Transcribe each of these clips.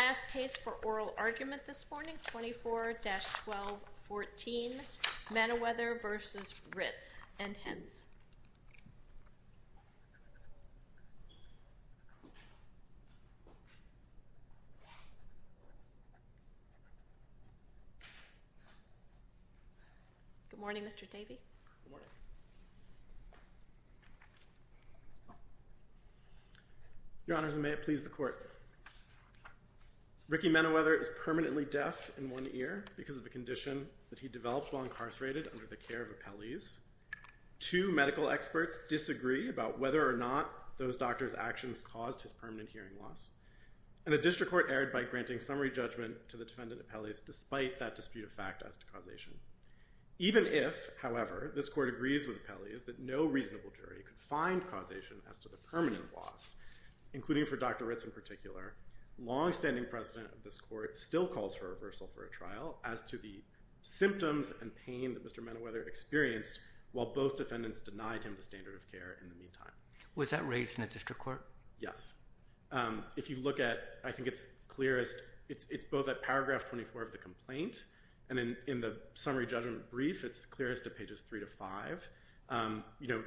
Last case for oral argument this morning, 24-1214, Meneweather v. Ritz & Hens. Good morning, Mr. Davey. Good morning. Your Honors, and may it please the Court. Ricky Meneweather is permanently deaf in one ear because of a condition that he developed while incarcerated under the care of appellees. Two medical experts disagree about whether or not those doctors' actions caused his permanent hearing loss, and the District Court erred by granting summary judgment to the defendant appellees despite that dispute of fact as to causation. Even if, however, this Court agrees with the appellees that no reasonable jury could find causation as to the permanent loss, including for Dr. Ritz in particular, long-standing precedent of this Court still calls for a reversal for a trial as to the symptoms and pain that Mr. Meneweather experienced while both defendants denied him the standard of care in the meantime. Was that raised in the District Court? Yes. If you look at, I think it's clearest, it's both at paragraph 24 of the complaint, and in the summary judgment brief, it's clearest at pages 3 to 5.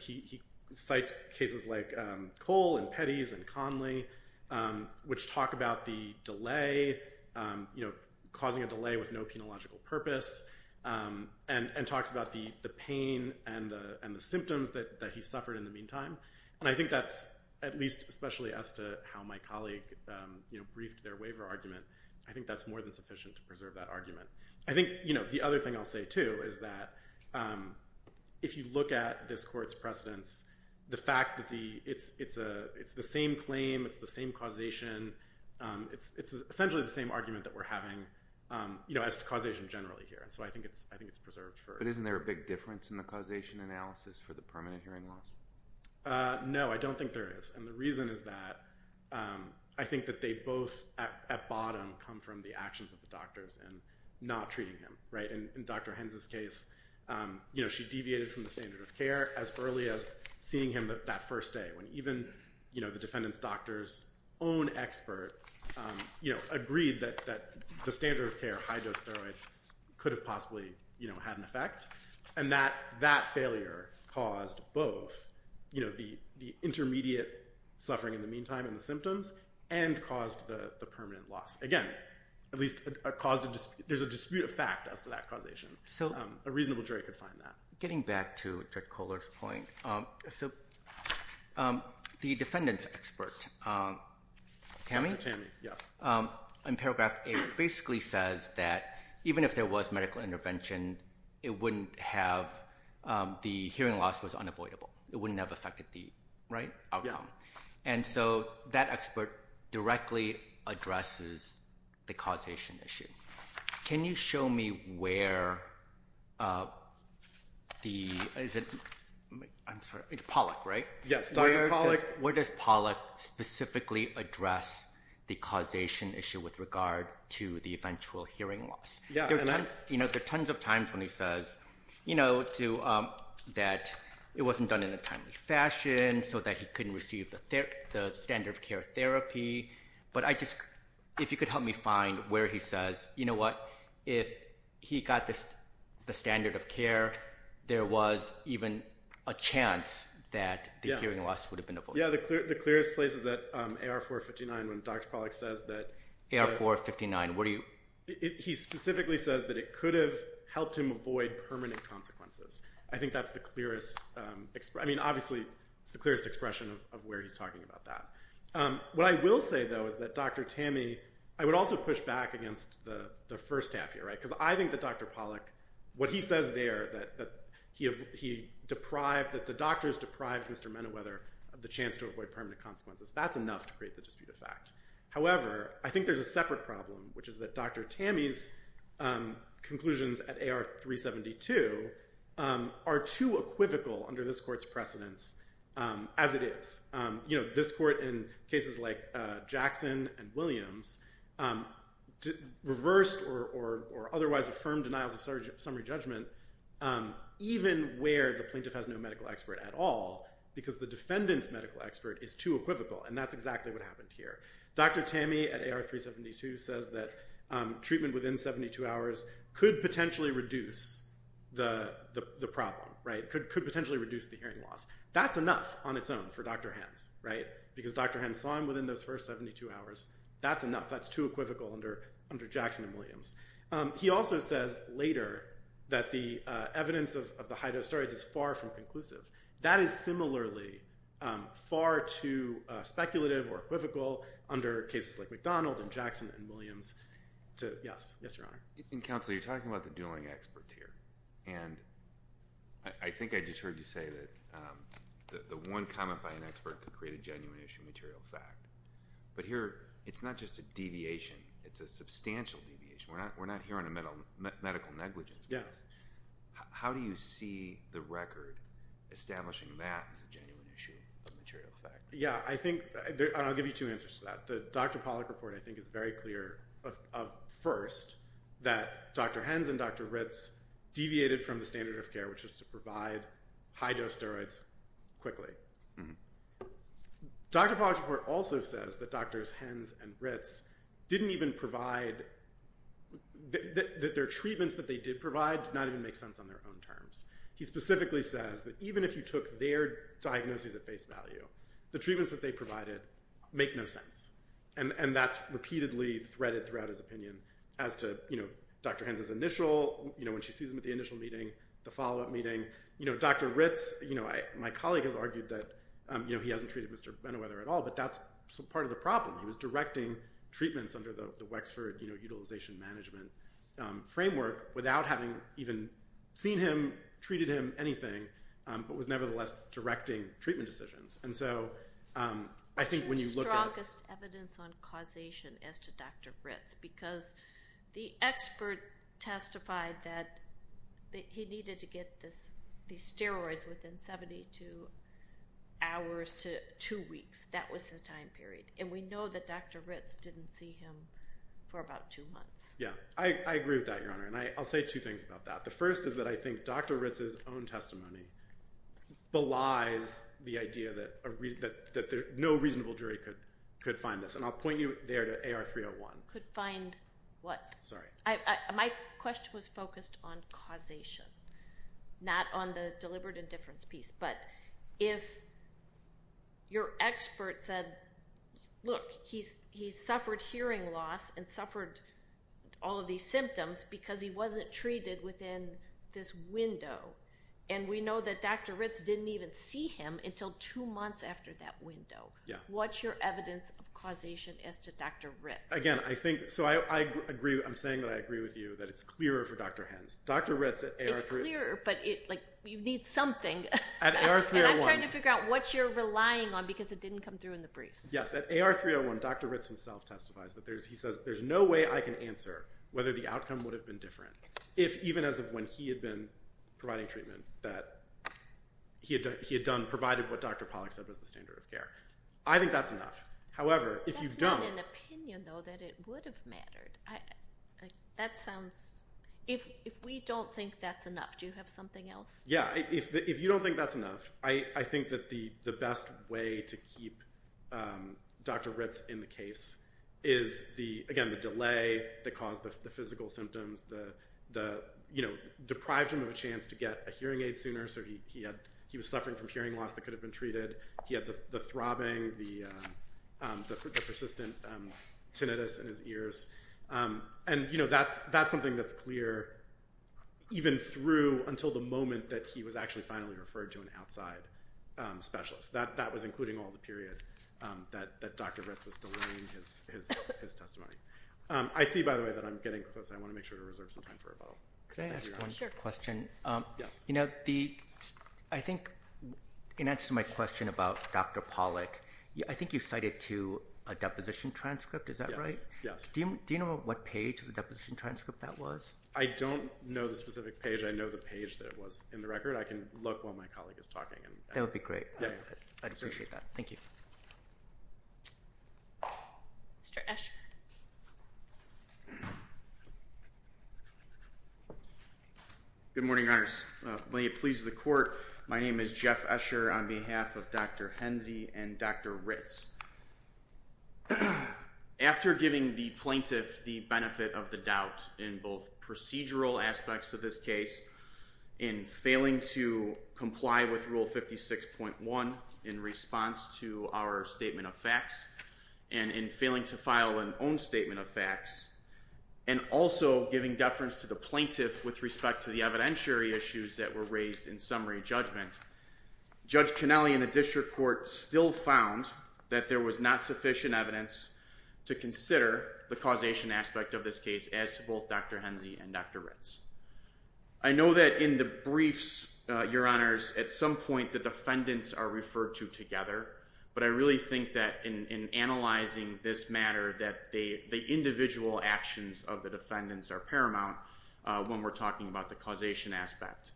He cites cases like Cole and Petty's and Conley, which talk about the delay, causing a delay with no penological purpose, and talks about the pain and the symptoms that he suffered in the meantime. And I think that's, at least especially as to how my colleague briefed their waiver argument, I think that's more than sufficient to preserve that argument. I think the other thing I'll say, too, is that if you look at this Court's precedents, the fact that it's the same claim, it's the same causation, it's essentially the same argument that we're having as to causation generally here. So I think it's preserved. But isn't there a big difference in the causation analysis for the permanent hearing loss? No, I don't think there is. And the reason is that I think that they both, at bottom, come from the actions of the doctors in not treating him. In Dr. Hens' case, she deviated from the standard of care as early as seeing him that first day, when even the defendant's doctor's own expert agreed that the standard of care, high-dose steroids, could have possibly had an effect. And that failure caused both the intermediate suffering in the meantime and the symptoms, and caused the permanent loss. Again, there's a dispute of fact as to that causation. A reasonable jury could find that. Getting back to Dr. Kohler's point, the defendant's expert, Tammy, in paragraph 8, basically says that even if there was medical intervention, the hearing loss was unavoidable. It wouldn't have affected the outcome. And so that expert directly addresses the causation issue. Can you show me where the... It's Pollack, right? Yes, Dr. Pollack. Where does Pollack specifically address the causation issue with regard to the eventual hearing loss? There are tons of times when he says that it wasn't done in a timely fashion, so that he couldn't receive the standard of care therapy. But if you could help me find where he says, you know what, if he got the standard of care, there was even a chance that the hearing loss would have been avoided. Yeah, the clearest place is that AR 459, when Dr. Pollack says that... AR 459, where do you... He specifically says that it could have helped him avoid permanent consequences. I think that's the clearest expression. I mean, obviously, it's the clearest expression of where he's talking about that. What I will say, though, is that Dr. Tammey... I would also push back against the first half here, right? Because I think that Dr. Pollack, what he says there, that he deprived... that the doctors deprived Mr. Menawether of the chance to avoid permanent consequences. That's enough to create the dispute of fact. However, I think there's a separate problem, which is that Dr. Tammey's conclusions at AR 372 are too equivocal under this court's precedence, as it is. You know, this court, in cases like Jackson and Williams, reversed or otherwise affirmed denials of summary judgment, even where the plaintiff has no medical expert at all, because the defendant's medical expert is too equivocal. And that's exactly what happened here. Dr. Tammey at AR 372 says that treatment within 72 hours could potentially reduce the problem, right? Could potentially reduce the hearing loss. That's enough on its own for Dr. Hans, right? Because Dr. Hans saw him within those first 72 hours. That's enough. That's too equivocal under Jackson and Williams. He also says later that the evidence of the high-dose steroids is far from conclusive. That is similarly far too speculative or equivocal under cases like McDonald and Jackson and Williams to... Yes. Yes, Your Honor. And, Counselor, you're talking about the dueling experts here. And I think I just heard you say that the one comment by an expert could create a genuine issue of material fact. But here, it's not just a deviation. It's a substantial deviation. We're not here on a medical negligence case. How do you see the record establishing that as a genuine issue of material fact? Yeah, I think, and I'll give you two answers to that. The Dr. Pollack report, I think, is very clear of first that Dr. Hans and Dr. Ritz deviated from the standard of care, which was to provide high-dose steroids quickly. Dr. Pollack's report also says that Drs. Hans and Ritz didn't even provide... That their treatments that they did provide did not even make sense on their own terms. He specifically says that even if you took their diagnoses at face value, the treatments that they provided make no sense. And that's repeatedly threaded throughout his opinion as to Dr. Hans' initial, when she sees him at the initial meeting, the follow-up meeting. Dr. Ritz, my colleague has argued that he hasn't treated Mr. Bennewether at all, but that's part of the problem. He was directing treatments under the Wexford utilization management framework without having even seen him, treated him, anything, but was nevertheless directing treatment decisions. And so, I think when you look at... The strongest evidence on causation as to Dr. Ritz, because the expert testified that he needed to get these steroids within 72 hours to two weeks. That was his time period. And we know that Dr. Ritz didn't see him for about two months. Yeah. I agree with that, Your Honor. And I'll say two things about that. The first is that I think Dr. Ritz's own testimony belies the idea that no reasonable jury could find this. And I'll point you there to AR 301. Could find what? Sorry. My question was focused on causation, not on the deliberate indifference piece. But if your expert said, look, he suffered hearing loss and suffered all of these symptoms because he wasn't treated within this window. And we know that Dr. Ritz didn't even see him until two months after that window. Yeah. What's your evidence of causation as to Dr. Ritz? Again, I think... So, I agree. I'm saying that I agree with you that it's clearer for Dr. Hens. Dr. Ritz at AR 301... It's clearer, but you need something. At AR 301... And I'm trying to figure out what you're relying on because it didn't come through in the briefs. Yes. At AR 301, Dr. Ritz himself testifies that there's... He says, there's no way I can answer whether the outcome would have been different, if even as of when he had been providing treatment, that he had provided what Dr. Pollack said was the standard of care. I think that's enough. However, if you don't... That's not an opinion, though, that it would have mattered. That sounds... If we don't think that's enough, do you have something else? Yeah. If you don't think that's enough, I think that the best way to keep Dr. Ritz in the case is, again, the delay that caused the physical symptoms that deprived him of a chance to get a hearing aid sooner. So, he was suffering from hearing loss that could have been treated. He had the throbbing, the persistent tinnitus in his ears. And, you know, that's something that's clear, even through until the moment that he was actually finally referred to an outside specialist. That was including all the period that Dr. Ritz was delaying his testimony. I see, by the way, that I'm getting close. I want to make sure to reserve some time for rebuttal. Could I ask one question? Yes. You know, I think in answer to my question about Dr. Pollack, I think you cited to a deposition transcript. Is that right? Do you know what page of the deposition transcript that was? I don't know the specific page. I know the page that it was in the record. I can look while my colleague is talking. That would be great. I'd appreciate that. Thank you. Mr. Escher. Good morning, Your Honors. May it please the Court. My name is Jeff Escher on behalf of Dr. Henze and Dr. Ritz. After giving the plaintiff the benefit of the doubt in both procedural aspects of this case, in failing to comply with Rule 56.1 in response to our statement of facts, and in failing to file an own statement of facts, and also giving deference to the plaintiff with respect to the evidentiary issues that were raised in summary judgment, Judge Connelly and the District Court still found that there was not sufficient evidence to consider the causation aspect of this case, as to both Dr. Henze and Dr. Ritz. I know that in the briefs, Your Honors, at some point the defendants are referred to together, but I really think that in analyzing this matter that the individual actions of the defendants are paramount when we're talking about the causation aspect.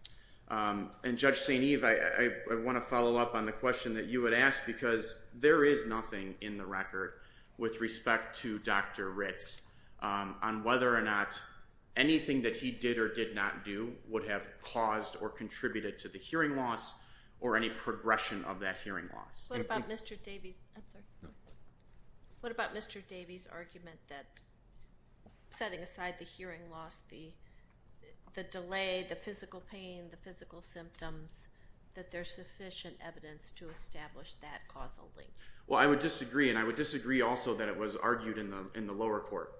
And Judge St. Eve, I want to follow up on the question that you had asked, because there is nothing in the record with respect to Dr. Ritz on whether or not anything that he did or did not do would have caused or contributed to the hearing loss or any progression of that hearing loss. What about Mr. Davies' argument that, setting aside the hearing loss, the delay, the physical pain, the physical symptoms, that there's sufficient evidence to establish that causally? Well, I would disagree, and I would disagree also that it was argued in the lower court.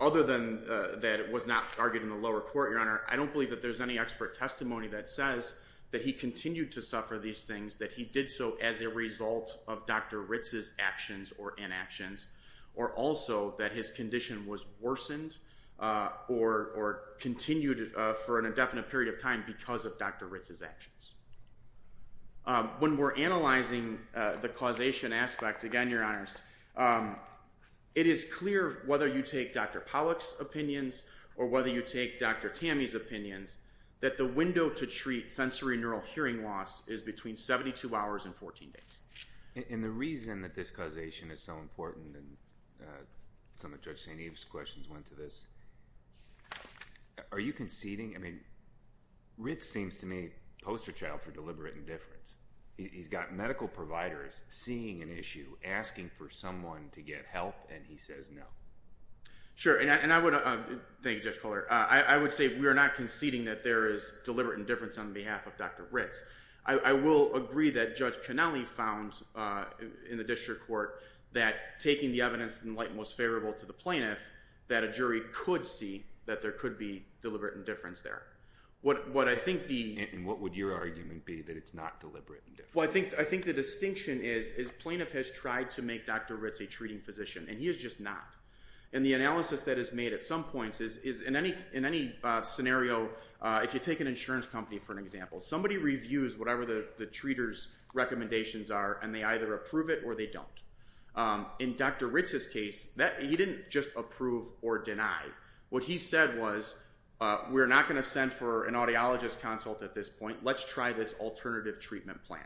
Other than that it was not argued in the lower court, Your Honor, I don't believe that there's any expert testimony that says that he continued to suffer these things, that he did so as a result of Dr. Ritz's actions or inactions, or also that his condition was worsened or continued for an indefinite period of time because of Dr. Ritz's actions. When we're analyzing the causation aspect, again, Your Honors, it is clear, whether you take Dr. Pollock's opinions or whether you take Dr. Tamey's opinions, that the window to treat sensory neural hearing loss is between 72 hours and 14 days. And the reason that this causation is so important, and some of Judge St. Eve's questions went to this, are you conceding, I mean, Ritz seems to me poster child for deliberate indifference. He's got medical providers seeing an issue, asking for someone to get help, and he says no. Sure, and I would, thank you, Judge Kohler, I would say we are not conceding that there is deliberate indifference on behalf of Dr. Ritz. I will agree that Judge Connelly found in the district court that taking the evidence in light and most favorable to the plaintiff, that a jury could see that there could be deliberate indifference there. And what would your argument be that it's not deliberate indifference? Well, I think the distinction is plaintiff has tried to make Dr. Ritz a treating physician, and he has just not. And the analysis that is made at some points is, in any scenario, if you take an insurance company for an example, somebody reviews whatever the treater's recommendations are, and they either approve it or they don't. In Dr. Ritz's case, he didn't just approve or deny. What he said was, we're not going to send for an audiologist consult at this point, let's try this alternative treatment plan.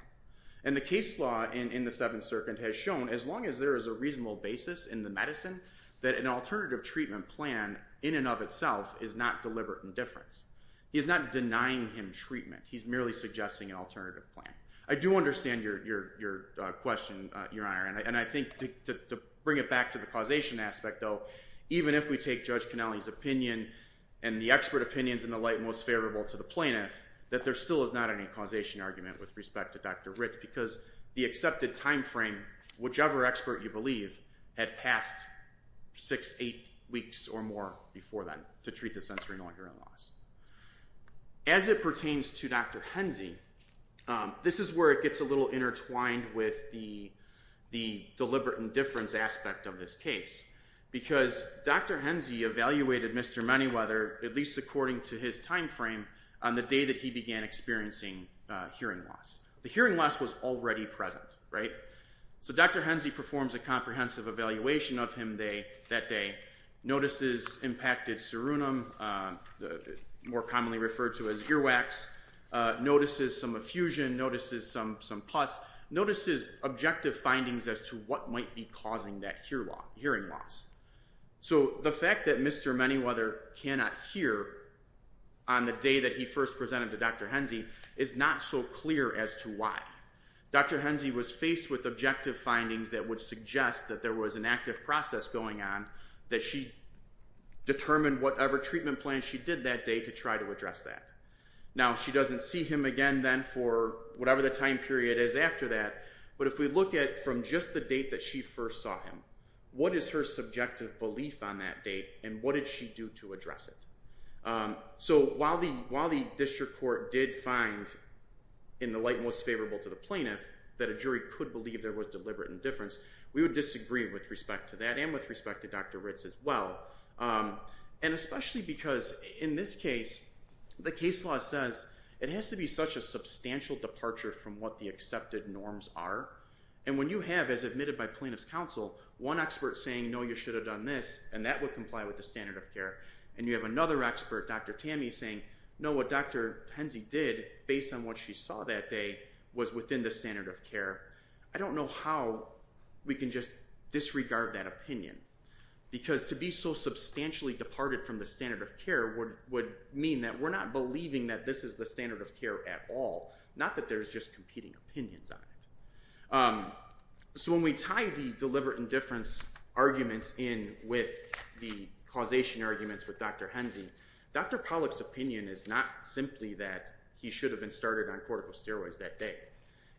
And the case law in the Seventh Circuit has shown, as long as there is a reasonable basis in the medicine, that an alternative treatment plan, in and of itself, is not deliberate indifference. He's not denying him treatment, he's merely suggesting an alternative plan. I do understand your question, Your Honor, and I think to bring it back to the causation aspect, though, even if we take Judge Cannelli's opinion and the expert opinions in the light most favorable to the plaintiff, that there still is not any causation argument with respect to Dr. Ritz, because the accepted time frame, whichever expert you believe, had passed six, eight weeks or more before then to treat the sensorineural hearing loss. As it pertains to Dr. Henze, this is where it gets a little intertwined with the deliberate indifference aspect of this case, because Dr. Henze evaluated Mr. Manyweather, at least according to his time frame, on the day that he began experiencing hearing loss. The hearing loss was already present, right? So Dr. Henze performs a comprehensive evaluation of him that day, notices impacted serunum, more commonly referred to as earwax, notices some effusion, notices some pus, notices objective findings as to what might be causing that hearing loss. So the fact that Mr. Manyweather cannot hear on the day that he first presented to Dr. Henze is not so clear as to why. Dr. Henze was faced with objective findings that would suggest that there was an active process going on, that she determined whatever treatment plan she did that day to try to address that. Now, she doesn't see him again then for whatever the time period is after that, but if we look at from just the date that she first saw him, what is her subjective belief on that date and what did she do to address it? So while the district court did find, in the light most favorable to the plaintiff, that a jury could believe there was deliberate indifference, we would disagree with respect to that and with respect to Dr. Ritz as well, and especially because in this case, the case law says it has to be such a substantial departure from what the accepted norms are, and when you have, as admitted by plaintiff's counsel, one expert saying, no, you should have done this, and that would comply with the standard of care, and you have another expert, Dr. Tammy, saying, no, what Dr. Henze did, based on what she saw that day, was within the standard of care. I don't know how we can just disregard that opinion because to be so substantially departed from the standard of care would mean that we're not believing that this is the standard of care at all, not that there's just competing opinions on it. So when we tie the deliberate indifference arguments in with the causation arguments with Dr. Henze, Dr. Pollack's opinion is not simply that he should have been started on corticosteroids that day.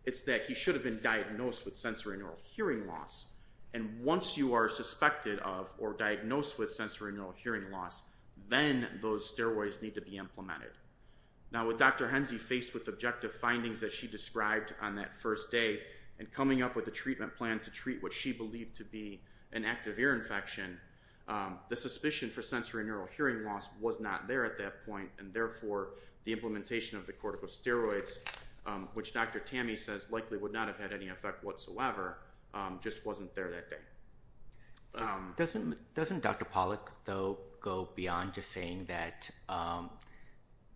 It's that he should have been diagnosed with sensorineural hearing loss, and once you are suspected of or diagnosed with sensorineural hearing loss, then those steroids need to be implemented. Now, with Dr. Henze faced with objective findings that she described on that first day and coming up with a treatment plan to treat what she believed to be an active ear infection, the suspicion for sensorineural hearing loss was not there at that point, and therefore the implementation of the corticosteroids, which Dr. Tammy says likely would not have had any effect whatsoever, just wasn't there that day. Doesn't Dr. Pollack, though, go beyond just saying that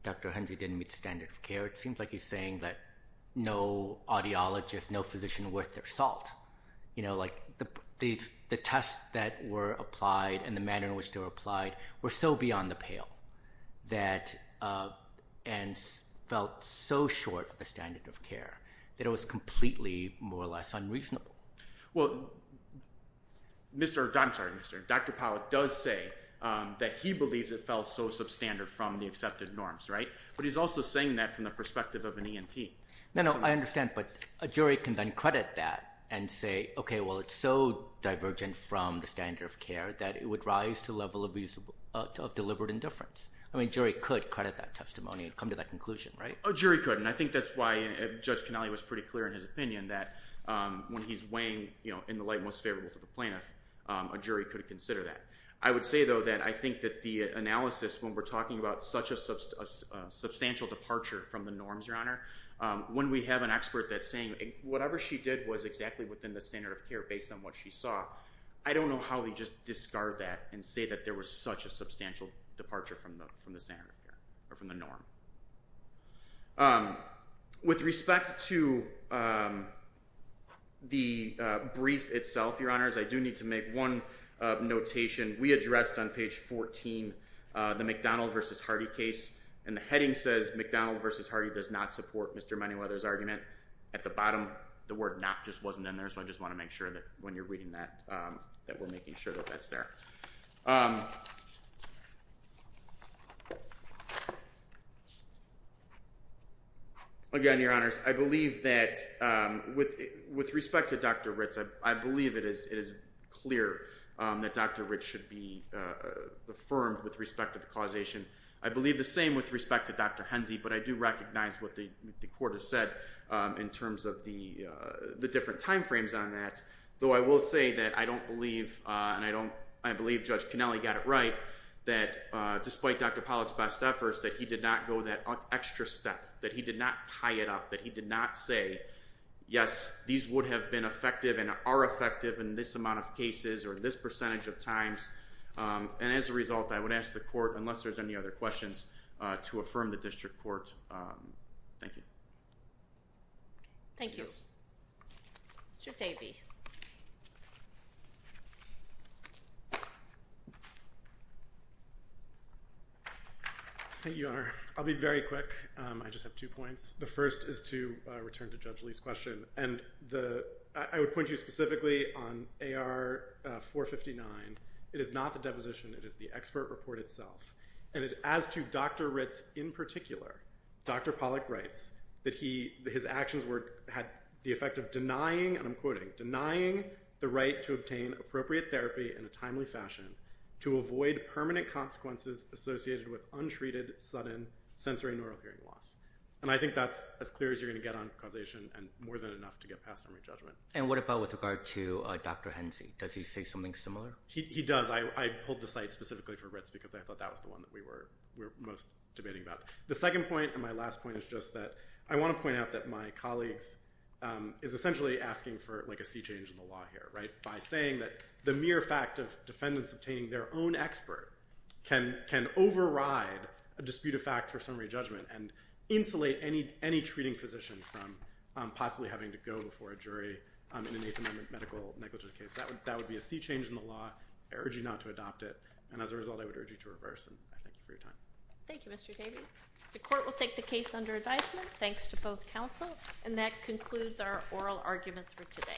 Dr. Henze didn't meet the standard of care? It seems like he's saying that no audiologist, no physician worth their salt. You know, like the tests that were applied and the manner in which they were applied were so beyond the pale and felt so short of the standard of care that it was completely, more or less, unreasonable. Well, Dr. Pollack does say that he believes it felt so substandard from the accepted norms, right? But he's also saying that from the perspective of an ENT. No, no, I understand, but a jury can then credit that and say, okay, well, it's so divergent from the standard of care that it would rise to the level of deliberate indifference. I mean, a jury could credit that testimony and come to that conclusion, right? A jury could, and I think that's why Judge Canale was pretty clear in his opinion that when he's weighing in the light most favorable to the plaintiff, a jury could consider that. I would say, though, that I think that the analysis when we're talking about such a substantial departure from the norms, Your Honor, when we have an expert that's saying whatever she did was exactly within the standard of care based on what she saw, I don't know how we just discard that and say that there was such a substantial departure from the standard of care or from the norm. With respect to the brief itself, Your Honors, I do need to make one notation. We addressed on page 14, the McDonald versus Hardy case, and the heading says, McDonald versus Hardy does not support Mr. Moneyweather's argument. At the bottom, the word not just wasn't in there, so I just want to make sure that when you're reading that, that we're making sure that that's there. Again, Your Honors, I believe that with respect to Dr. Ritz, I believe it is clear that Dr. Ritz should be affirmed with respect to the causation. I believe the same with respect to Dr. Henze, but I do recognize what the court has said in terms of the different time frames on that, though I will say that I don't believe, and I believe Judge Connelly got it right, that despite Dr. Pollack's best efforts, that he did not go that extra step, that he did not tie it up, that he did not say, yes, these would have been effective and are effective in this amount of cases or this percentage of times, and as a result, I would ask the court, unless there's any other questions, to affirm the district court. Thank you. Thank you. Mr. Thaby. Thank you, Your Honor. I'll be very quick. I just have two points. The first is to return to Judge Lee's question, and I would point you specifically on AR 459. It is not the deposition. It is the expert report itself, and as to Dr. Ritz in particular, Dr. Pollack writes that his actions had the effect of denying, and I'm quoting, denying the right to obtain appropriate therapy in a timely fashion to avoid permanent consequences associated with untreated, sudden sensory and neural hearing loss, and I think that's as clear as you're going to get on causation and more than enough to get past summary judgment. And what about with regard to Dr. Henze? Does he say something similar? He does. I pulled the cite specifically for Ritz because I thought that was the one that we were most debating about. The second point and my last point is just that I want to point out that my colleagues is essentially asking for, like, a sea change in the law here, right, by saying that the mere fact of defendants obtaining their own expert can override a dispute of fact for summary judgment and insulate any treating physician from possibly having to go before a jury in an Eighth Amendment medical negligence case. That would be a sea change in the law. I urge you not to adopt it, and as a result, I would urge you to reverse, and I thank you for your time. Thank you, Mr. Davey. The court will take the case under advisement. Thanks to both counsel, and that concludes our oral arguments for today. Thank you.